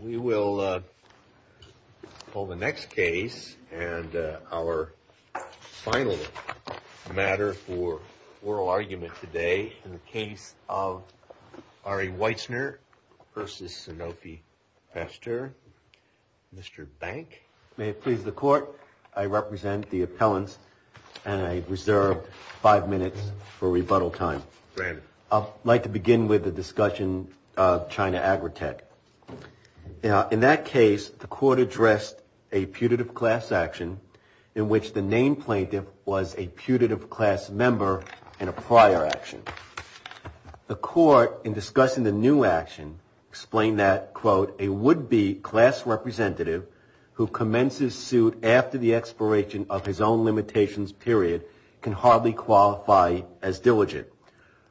We will pull the next case and our final matter for oral argument today in the case of Ari Weitzner v. Sanofi Pasteur. Mr. Bank. May it please the court, I represent the appellants and I reserve five minutes for rebuttal time. I would like to begin with the discussion of China Agritech. In that case, the court addressed a putative class action in which the named plaintiff was a putative class member in a prior action. The court in discussing the new action explained that, quote, a would-be class representative who commences suit after the expiration of his own limitations period can hardly qualify as diligent.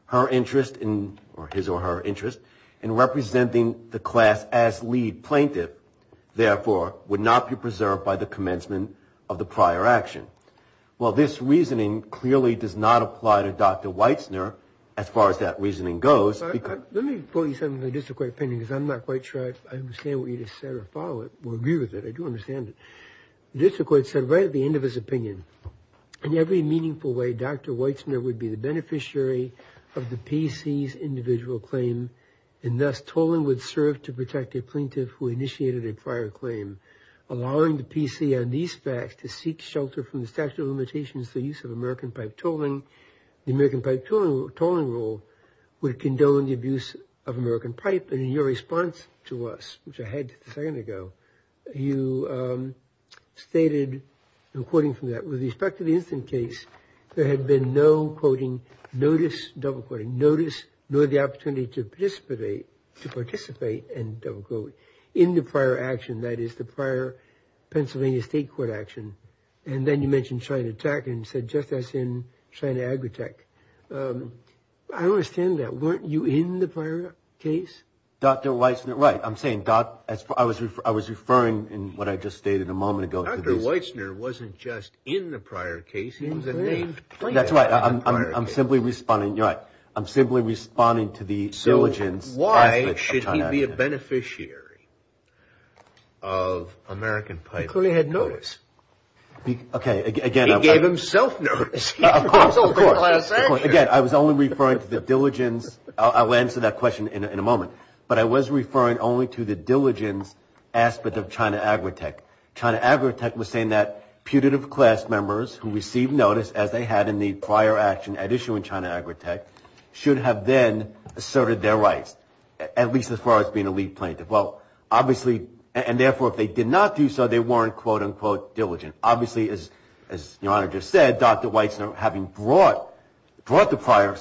Her interest in, or his or her interest, in representing the class as lead plaintiff, therefore, would not be preserved by the commencement of the prior action. Well, this reasoning clearly does not apply to Dr. Weitzner as far as that reasoning goes. Let me put you something in the district court opinion because I'm not quite sure I understand what you just said or follow it or agree with it. I do understand it. The district court said right at the end of his opinion, in every meaningful way, Dr. Weitzner would be the beneficiary of the PC's individual claim and thus tolling would serve to protect a plaintiff who initiated a prior claim. Allowing the PC on these facts to seek shelter from the statute of limitations, the use of American pipe tolling, the American pipe tolling rule would condone the abuse of American pipe. And in your response to us, which I had a second ago, you stated, in quoting from that, with respect to the instant case, there had been no quoting, notice, double quoting, notice, nor the opportunity to participate, to participate, and double quote, in the prior action. That is the prior Pennsylvania state court action. And then you mentioned China Tech and said just as in China Agritech. I understand that. Weren't you in the prior case? Dr. Weitzner, right. I'm saying, I was referring in what I just stated a moment ago. Dr. Weitzner wasn't just in the prior case. He was a named plaintiff. That's right. I'm simply responding. You're right. I'm simply responding to the diligence. So why should he be a beneficiary of American pipe? He clearly had notice. Okay, again. He gave himself notice. Again, I was only referring to the diligence. I'll answer that question in a moment. But I was referring only to the diligence aspect of China Agritech. China Agritech was saying that putative class members who received notice, as they had in the prior action at issue in China Agritech, should have then asserted their rights, at least as far as being a lead plaintiff. Well, obviously, and therefore, if they did not do so, they weren't, quote, unquote, diligent. Obviously, as Your Honor just said, Dr. Weitzner, having brought the prior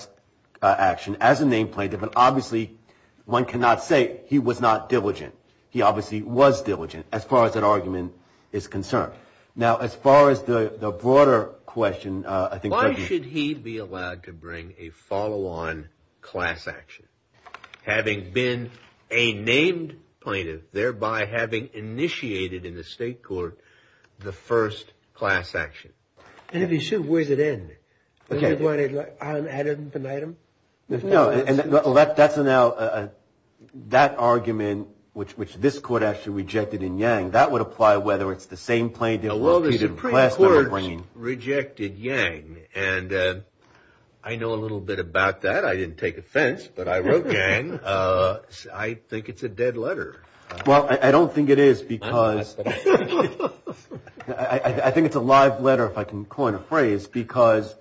action as a named plaintiff, and obviously, one cannot say he was not diligent. He obviously was diligent as far as that argument is concerned. Now, as far as the broader question, I think… Why should he be allowed to bring a follow-on class action? Having been a named plaintiff, thereby having initiated in the state court the first class action. And if he should, where does it end? No, and that's now, that argument, which this court actually rejected in Yang, that would apply whether it's the same plaintiff… The court rejected Yang, and I know a little bit about that. I didn't take offense, but I wrote Yang. I think it's a dead letter. Well, I don't think it is because… I think it's a live letter, if I can coin a phrase, because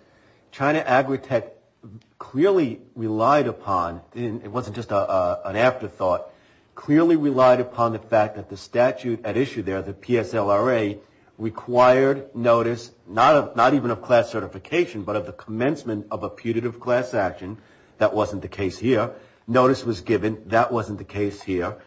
China Agritech clearly relied upon, and it wasn't just an afterthought, clearly relied upon the fact that the statute at issue there, the PSLRA, required notice, not even of class certification, but of the commencement of a putative class action. That wasn't the case here. Notice was given. That wasn't the case here.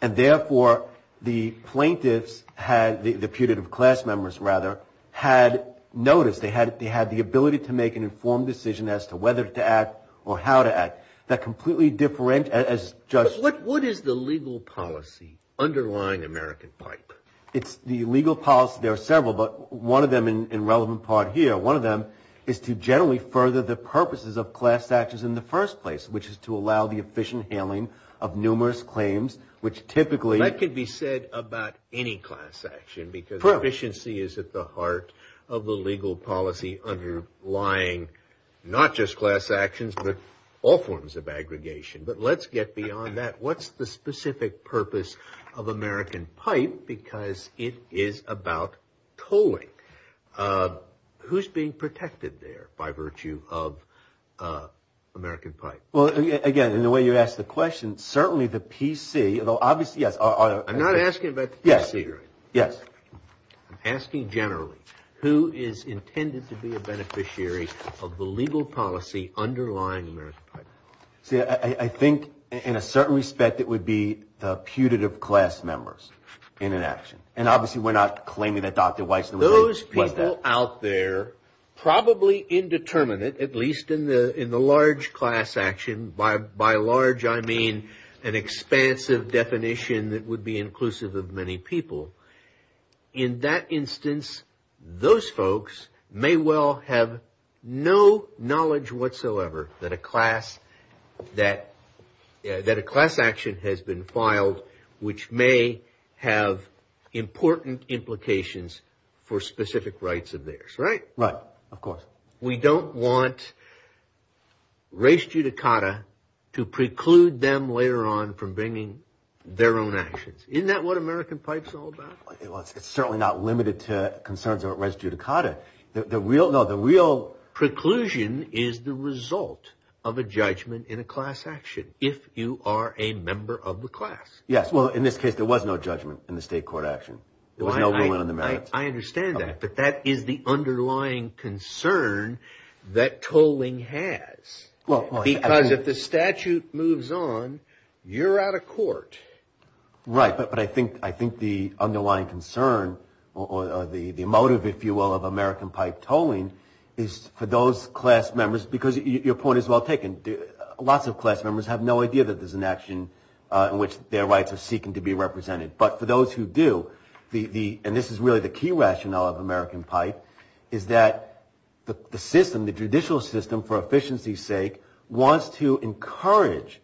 And therefore, the plaintiffs had, the putative class members, rather, had notice. They had the ability to make an informed decision as to whether to act or how to act. But what is the legal policy underlying American pipe? It's the legal policy. There are several, but one of them, in relevant part here, one of them is to generally further the purposes of class actions in the first place, which is to allow the efficient handling of numerous claims, which typically… That could be said about any class action, because efficiency is at the heart of the legal policy underlying not just class actions, but all forms of aggregation. But let's get beyond that. What's the specific purpose of American pipe? Because it is about tolling. Who's being protected there by virtue of American pipe? Well, again, in the way you asked the question, certainly the PC, although obviously, yes… I'm not asking about the PC, right? Yes. I'm asking generally, who is intended to be a beneficiary of the legal policy underlying American pipe? See, I think, in a certain respect, it would be the putative class members in an action. And obviously, we're not claiming that Dr. Weiss… Those people out there, probably indeterminate, at least in the large class action, by large, I mean an expansive definition that would be inclusive of many people. In that instance, those folks may well have no knowledge whatsoever that a class action has been filed, which may have important implications for specific rights of theirs, right? Right, of course. But we don't want res judicata to preclude them later on from bringing their own actions. Isn't that what American pipe is all about? It's certainly not limited to concerns of res judicata. The real preclusion is the result of a judgment in a class action, if you are a member of the class. Yes, well, in this case, there was no judgment in the state court action. There was no ruling on the merits. I understand that, but that is the underlying concern that tolling has. Because if the statute moves on, you're out of court. Right, but I think the underlying concern or the motive, if you will, of American pipe tolling is for those class members, because your point is well taken. Lots of class members have no idea that there's an action in which their rights are seeking to be represented. But for those who do, and this is really the key rationale of American pipe, is that the system, the judicial system, for efficiency's sake, wants to encourage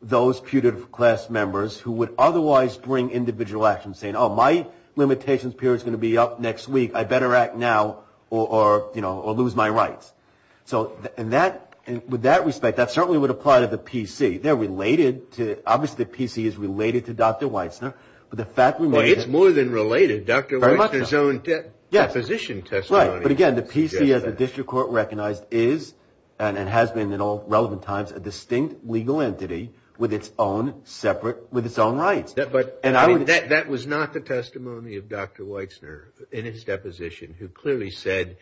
those putative class members who would otherwise bring individual actions, saying, oh, my limitations period is going to be up next week. I better act now or lose my rights. So with that respect, that certainly would apply to the PC. Obviously the PC is related to Dr. Weitzner. It's more than related. Dr. Weitzner's own deposition testimony. But again, the PC, as the district court recognized, is and has been in all relevant times a distinct legal entity with its own rights. That was not the testimony of Dr. Weitzner in his deposition, who clearly said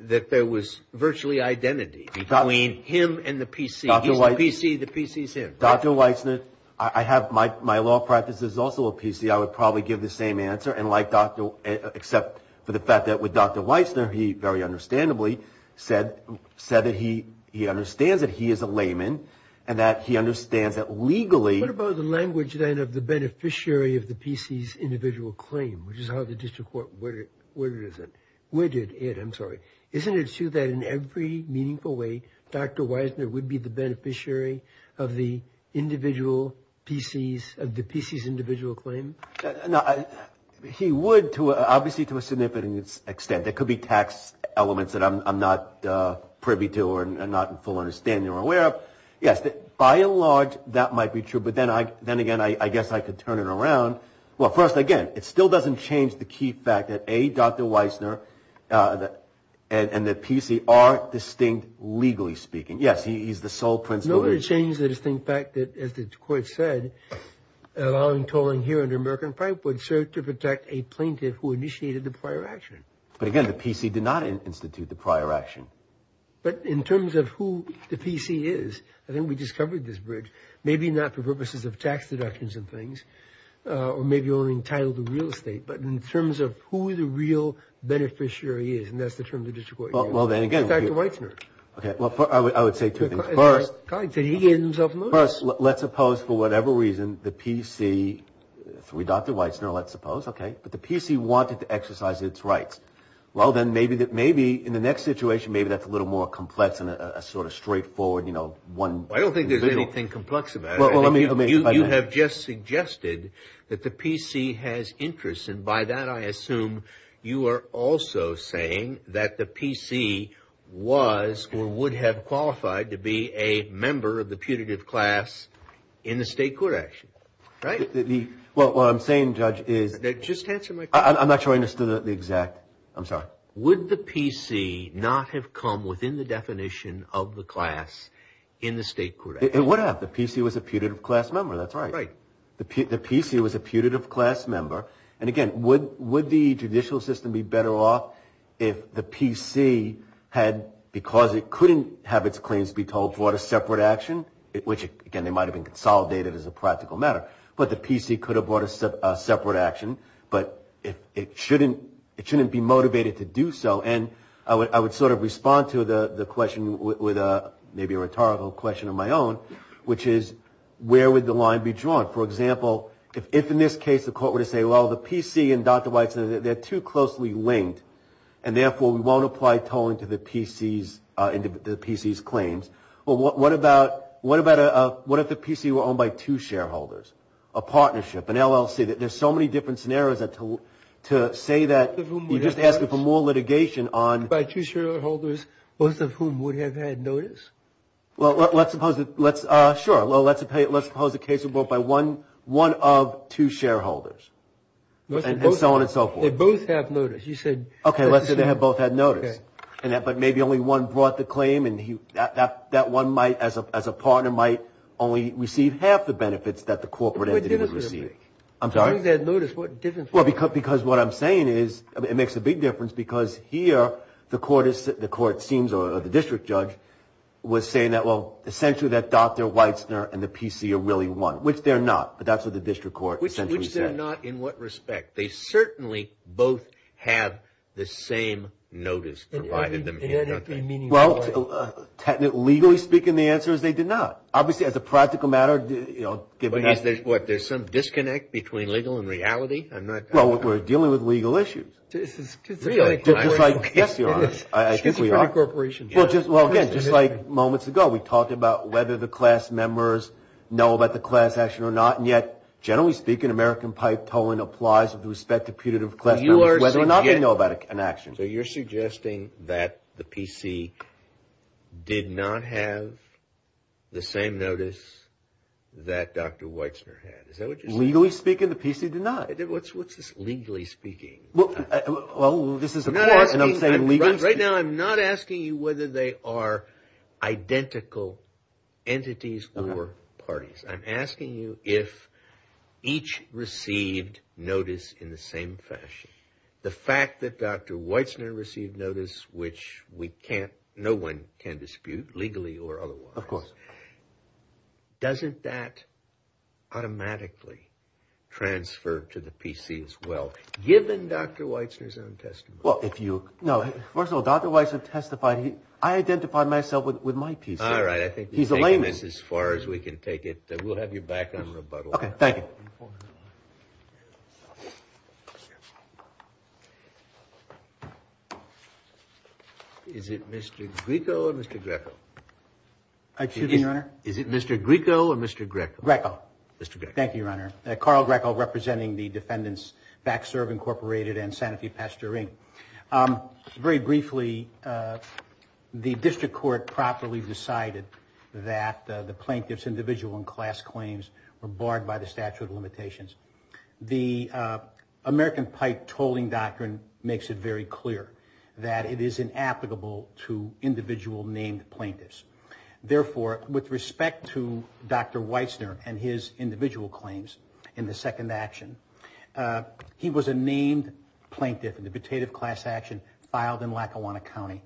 that there was virtually identity between him and the PC. He's the PC, the PC's him. Dr. Weitzner, I have my law practice is also a PC. I would probably give the same answer. And like Dr. Weitzner, except for the fact that with Dr. Weitzner, he very understandably said that he understands that he is a layman and that he understands that legally. What about the language then of the beneficiary of the PC's individual claim, which is how the district court worded it? I'm sorry. Isn't it true that in every meaningful way, Dr. Weitzner would be the beneficiary of the individual PC's, of the PC's individual claim? He would, obviously to a significant extent. There could be tax elements that I'm not privy to or not in full understanding or aware of. Yes, by and large, that might be true. But then again, I guess I could turn it around. Well, first, again, it still doesn't change the key fact that, A, Dr. Weitzner and the PC are distinct legally speaking. Yes, he's the sole principal. Nobody changed the distinct fact that, as the court said, allowing tolling here under American Pipe would serve to protect a plaintiff who initiated the prior action. But again, the PC did not institute the prior action. But in terms of who the PC is, I think we just covered this bridge. Maybe not for purposes of tax deductions and things, or maybe only entitled to real estate, but in terms of who the real beneficiary is, and that's the term the district court used. Dr. Weitzner. Okay. Well, I would say two things. First, let's suppose for whatever reason, the PC, through Dr. Weitzner, let's suppose, okay, but the PC wanted to exercise its rights. Well, then maybe in the next situation, maybe that's a little more complex and sort of straightforward, you know. I don't think there's anything complex about it. You have just suggested that the PC has interests, and by that I assume you are also saying that the PC was or would have qualified to be a member of the putative class in the state court action. Right? Well, what I'm saying, Judge, is. Just answer my question. I'm not sure I understood the exact. I'm sorry. Would the PC not have come within the definition of the class in the state court action? It would have. The PC was a putative class member. That's right. Right. The PC was a putative class member. And, again, would the judicial system be better off if the PC had, because it couldn't have its claims be told, brought a separate action, which, again, they might have been consolidated as a practical matter, but the PC could have brought a separate action, but it shouldn't be motivated to do so. And I would sort of respond to the question with maybe a rhetorical question of my own, which is where would the line be drawn? For example, if in this case the court were to say, well, the PC and Dr. Weitzner, they're too closely linked, and therefore we won't apply tolling to the PC's claims, well, what if the PC were owned by two shareholders, a partnership, an LLC? There's so many different scenarios to say that. You're just asking for more litigation on. By two shareholders, both of whom would have had notice. Well, let's suppose the case was brought by one of two shareholders, and so on and so forth. They both have notice. You said. Okay, let's say they both had notice. Okay. But maybe only one brought the claim, and that one might as a partner might only receive half the benefits that the corporate entity would receive. I'm sorry? As long as they had notice, what difference would that make? Well, because what I'm saying is it makes a big difference, because here the court seems, or the district judge, was saying that, well, essentially that Dr. Weitzner and the PC are really one, which they're not. But that's what the district court essentially said. Which they're not in what respect? They certainly both have the same notice provided them here, don't they? Well, legally speaking, the answer is they did not. Obviously, as a practical matter. What, there's some disconnect between legal and reality? Well, we're dealing with legal issues. Really? Yes, there is. I think we are. Well, again, just like moments ago, we talked about whether the class members know about the class action or not, and yet, generally speaking, American pipe tolling applies with respect to putative class members, whether or not they know about an action. So you're suggesting that the PC did not have the same notice that Dr. Weitzner had. Is that what you're saying? Legally speaking, the PC did not. What's this legally speaking? Well, this is the court, and I'm saying legally speaking. Right now, I'm not asking you whether they are identical entities or parties. I'm asking you if each received notice in the same fashion. The fact that Dr. Weitzner received notice, which we can't, no one can dispute, legally or otherwise. Of course. Doesn't that automatically transfer to the PC as well, given Dr. Weitzner's own testimony? Well, if you, no, first of all, Dr. Weitzner testified. I identified myself with my PC. All right, I think you've taken this as far as we can take it. We'll have you back on rebuttal. Okay, thank you. Is it Mr. Greco or Mr. Greco? Excuse me, Your Honor? Is it Mr. Greco or Mr. Greco? Greco. Mr. Greco. Thank you, Your Honor. Carl Greco representing the defendants, Back Serve Incorporated and Santa Fe Pastoring. Very briefly, the district court properly decided that the plaintiff's individual and class claims were barred by the statute of limitations. The American Pipe Tolling Doctrine makes it very clear that it is inapplicable to individual named plaintiffs. Therefore, with respect to Dr. Weitzner and his individual claims in the second action, he was a named plaintiff in the petitive class action filed in Lackawanna County.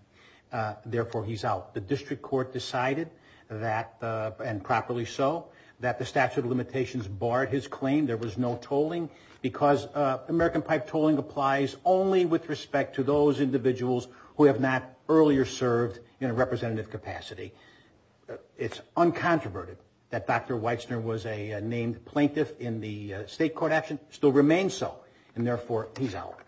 Therefore, he's out. The district court decided that, and properly so, that the statute of limitations barred his claim. There was no tolling because American Pipe Tolling applies only with respect to those individuals who have not earlier served in a representative capacity. It's uncontroverted that Dr. Weitzner was a named plaintiff in the state court action, still remains so, and therefore, he's out.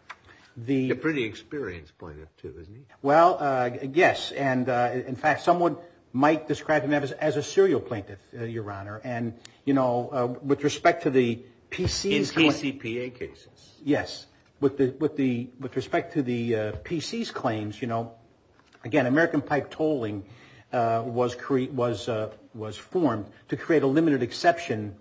He's a pretty experienced plaintiff, too, isn't he? Well, yes, and in fact, someone might describe him as a serial plaintiff, Your Honor. And, you know, with respect to the PC's claims. In PCPA cases. Yes. With respect to the PC's claims, you know, again, American Pipe Tolling was formed to create a limited exception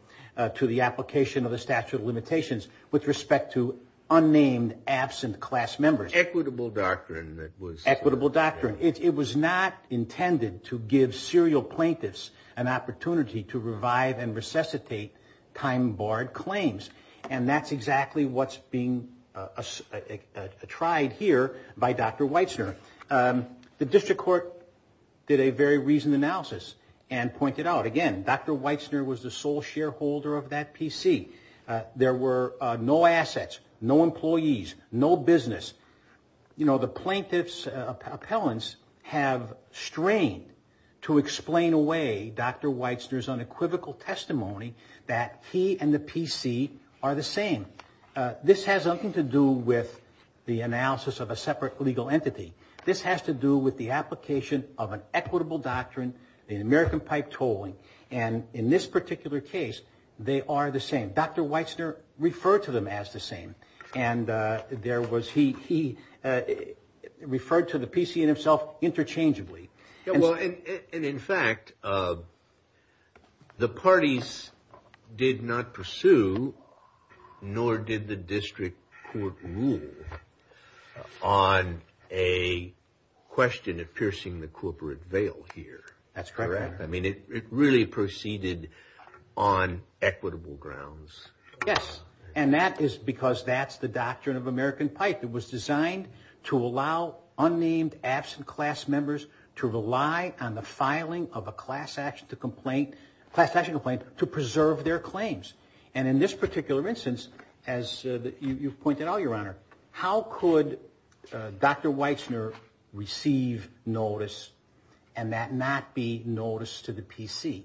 to the application of the statute of limitations with respect to unnamed absent class members. An equitable doctrine that was. Equitable doctrine. It was not intended to give serial plaintiffs an opportunity to revive and resuscitate time barred claims. And that's exactly what's being tried here by Dr. Weitzner. The district court did a very reasoned analysis and pointed out, again, Dr. Weitzner was the sole shareholder of that PC. There were no assets, no employees, no business. You know, the plaintiff's appellants have strained to explain away Dr. Weitzner's unequivocal testimony that he and the PC are the same. This has nothing to do with the analysis of a separate legal entity. This has to do with the application of an equitable doctrine in American Pipe Tolling. And in this particular case, they are the same. Dr. Weitzner referred to them as the same. And there was he referred to the PC and himself interchangeably. And in fact, the parties did not pursue, nor did the district court rule on a question of piercing the corporate veil here. That's correct. I mean, it really proceeded on equitable grounds. Yes. And that is because that's the doctrine of American Pipe. It was designed to allow unnamed absent class members to rely on the filing of a class action complaint to preserve their claims. And in this particular instance, as you've pointed out, Your Honor, how could Dr. Weitzner receive notice and that not be noticed to the PC?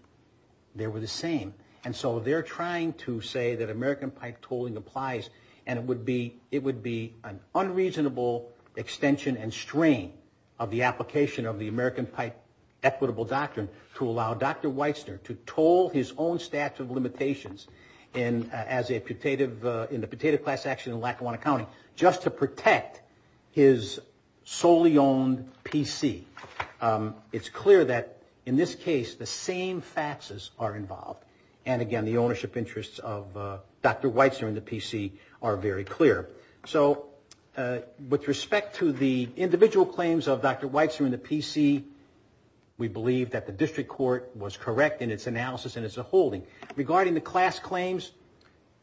They were the same. And so they're trying to say that American Pipe Tolling applies. And it would be it would be an unreasonable extension and strain of the application of the American Pipe Equitable Doctrine to allow Dr. Weitzner to toll his own statute of limitations and as a putative in the potato class action in Lackawanna County just to protect his solely owned PC. It's clear that in this case, the same faxes are involved. And again, the ownership interests of Dr. Weitzner and the PC are very clear. So with respect to the individual claims of Dr. Weitzner and the PC, we believe that the district court was correct in its analysis and its holding. Regarding the class claims,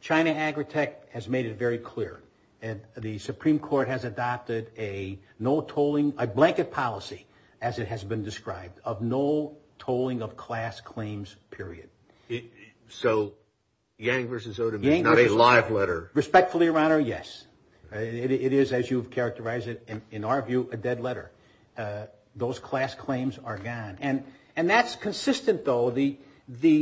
China Agritech has made it very clear. And the Supreme Court has adopted a blanket policy, as it has been described, of no tolling of class claims, period. So Yang versus Odom is not a live letter. Respectfully, Your Honor, yes. It is, as you've characterized it, in our view, a dead letter. Those class claims are gone. And that's consistent, though, the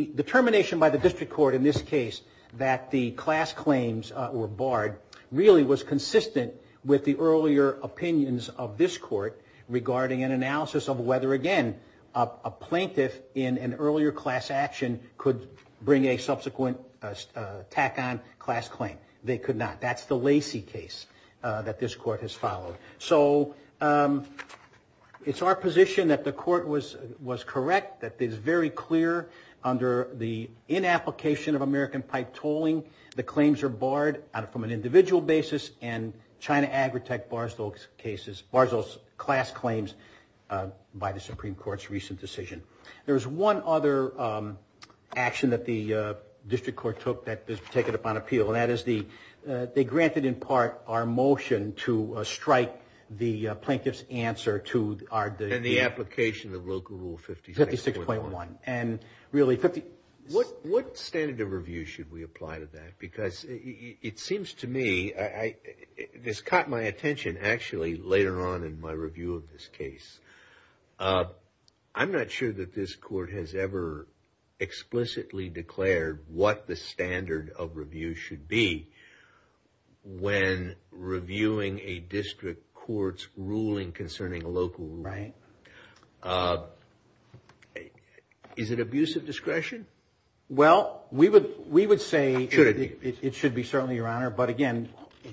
determination by the district court in this case that the class claims were barred really was consistent with the earlier opinions of this court regarding an analysis of whether, again, a plaintiff in an earlier class action could bring a subsequent tack-on class claim. They could not. That's the Lacey case that this court has followed. So it's our position that the court was correct, that it is very clear under the inapplication of American pipe tolling, the claims are barred from an individual basis, and China Agritech bars those class claims by the Supreme Court's recent decision. There was one other action that the district court took that was taken upon appeal, and that is they granted in part our motion to strike the plaintiff's answer to our And the application of Local Rule 56.1. 56.1, and really What standard of review should we apply to that? Because it seems to me, this caught my attention actually later on in my review of this case. I'm not sure that this court has ever explicitly declared what the standard of review should be when reviewing a district court's ruling concerning a local rule. Right. Well, we would say it should be, certainly, Your Honor, but again,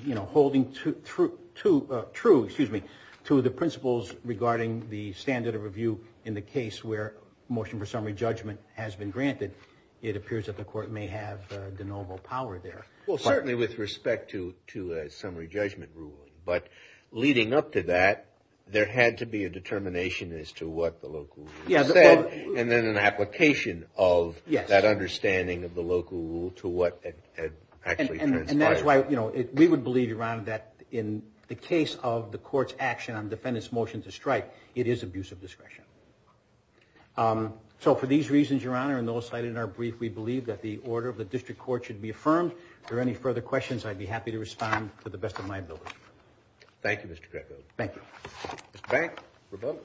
you know, holding true to the principles regarding the standard of review in the case where motion for summary judgment has been granted, it appears that the court may have de novo power there. Well, certainly with respect to a summary judgment ruling. But leading up to that, there had to be a determination as to what the local rule said, and then an application of that understanding of the local rule to what actually transpired. And that's why, you know, we would believe, Your Honor, that in the case of the court's action on defendant's motion to strike, it is abuse of discretion. So for these reasons, Your Honor, and those cited in our brief, we believe that the order of the district court should be affirmed. If there are any further questions, I'd be happy to respond to the best of my ability. Thank you, Mr. Greco. Thank you. Mr. Banks, rebuttal.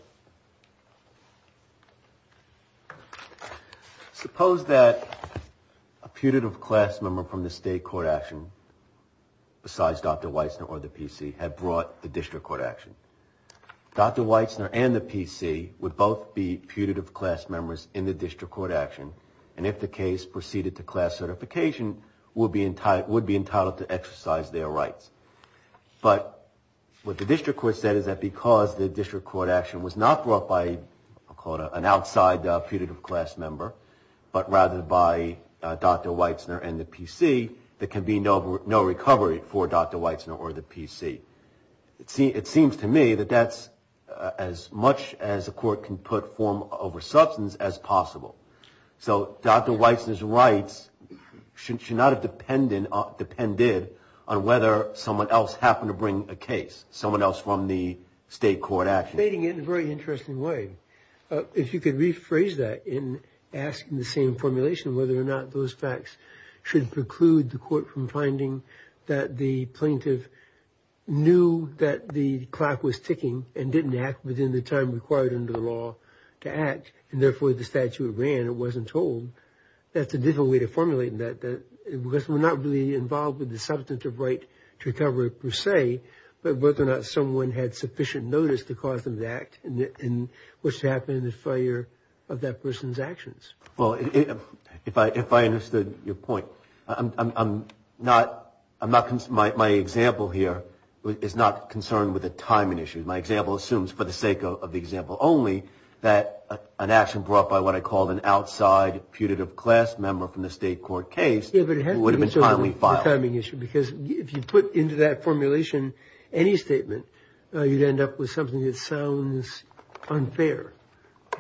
Suppose that a putative class member from the state court action, besides Dr. Weitzner or the PC, had brought the district court action. Dr. Weitzner and the PC would both be putative class members in the district court action. And if the case proceeded to class certification, would be entitled to exercise their rights. But what the district court said is that because the district court action was not brought by an outside putative class member, but rather by Dr. Weitzner and the PC, there can be no recovery for Dr. Weitzner or the PC. It seems to me that that's as much as a court can put form over substance as possible. So Dr. Weitzner's rights should not have depended on whether someone else happened to bring a case, someone else from the state court action. Stating it in a very interesting way. If you could rephrase that in asking the same formulation, whether or not those facts should preclude the court from finding that the plaintiff knew that the clock was ticking and didn't act within the time required under the law to act, and therefore the statute ran and wasn't told. That's a difficult way to formulate that. Because we're not really involved with the substantive right to recovery per se, but whether or not someone had sufficient notice to cause them to act and what's happened in the fire of that person's actions. Well, if I understood your point. My example here is not concerned with a timing issue. My example assumes, for the sake of the example only, that an action brought by what I call an outside putative class member from the state court case would have been timely filed. Because if you put into that formulation any statement, you'd end up with something that sounds unfair.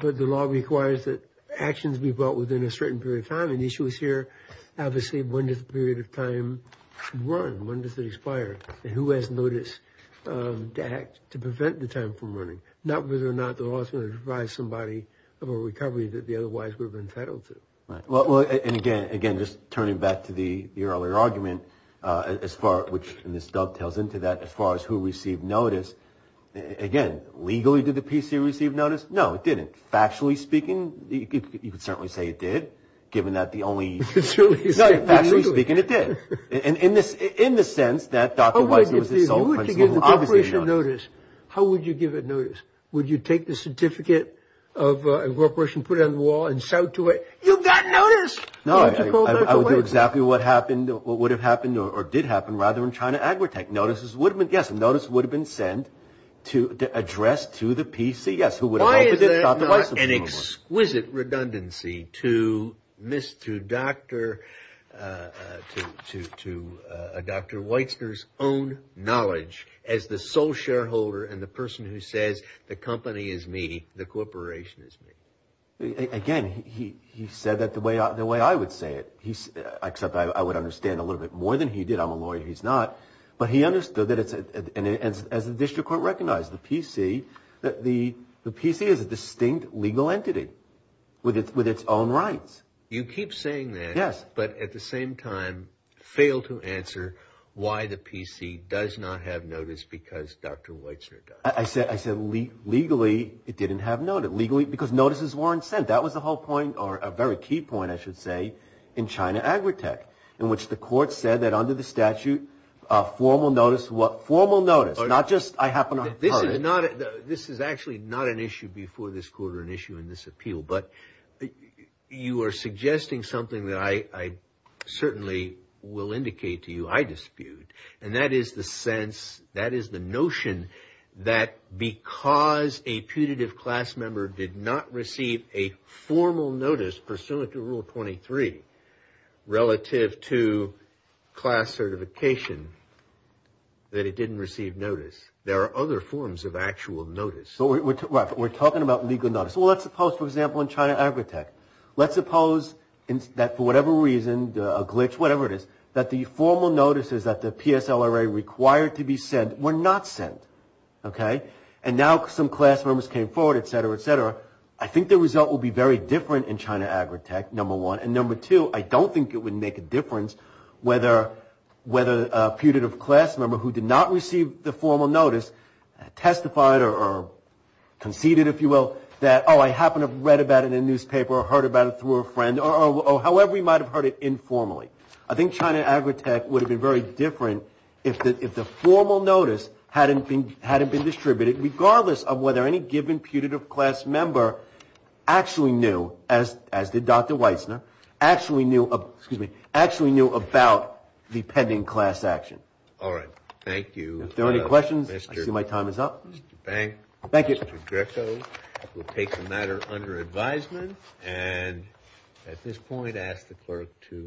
But the law requires that actions be brought within a certain period of time. And the issue is here, obviously, when does the period of time run? When does it expire? And who has notice to act to prevent the time from running? Not whether or not the law is going to provide somebody with a recovery that they otherwise would have been entitled to. Right. Well, and again, just turning back to the earlier argument, which this dovetails into that, as far as who received notice. Again, legally, did the PC receive notice? No, it didn't. Factually speaking, you could certainly say it did, given that the only. Factually speaking, it did. In the sense that Dr. Weiser was the sole principal. How would you give a notice? How would you give a notice? Would you take the certificate of incorporation, put it on the wall and shout to it, you got notice? No, I would do exactly what happened or what would have happened or did happen rather in China agri-tech. Yes, notice would have been sent to address to the PC. Why is there not an exquisite redundancy to Dr. Weister's own knowledge as the sole shareholder and the person who says the company is me, the corporation is me? Again, he said that the way I would say it, except I would understand a little bit more than he did. I'm a lawyer, he's not. But he understood that it's, as the district court recognized, the PC is a distinct legal entity with its own rights. You keep saying that. Yes. But at the same time, fail to answer why the PC does not have notice because Dr. Weister does. I said legally, it didn't have notice. Because notices weren't sent. I said that was the whole point or a very key point, I should say, in China agri-tech, in which the court said that under the statute, formal notice. Not just I happen to be part of it. This is actually not an issue before this court or an issue in this appeal. But you are suggesting something that I certainly will indicate to you I dispute. And that is the sense, that is the notion that because a putative class member did not receive a formal notice pursuant to Rule 23, relative to class certification, that it didn't receive notice. There are other forms of actual notice. We're talking about legal notice. Well, let's suppose, for example, in China agri-tech. Let's suppose that for whatever reason, a glitch, whatever it is, that the formal notices that the PSLRA required to be sent were not sent. Okay? And now some class members came forward, et cetera, et cetera. I think the result will be very different in China agri-tech, number one. And number two, I don't think it would make a difference whether a putative class member who did not receive the formal notice testified or conceded, if you will, that, oh, I happened to have read about it in a newspaper or heard about it through a friend or however you might have heard it informally. I think China agri-tech would have been very different if the formal notice hadn't been distributed, regardless of whether any given putative class member actually knew, as did Dr. Weissner, actually knew about the pending class action. All right. Thank you. If there are any questions, I see my time is up. Mr. Bank. Thank you. Mr. Greco will take the matter under advisement and at this point ask the clerk to.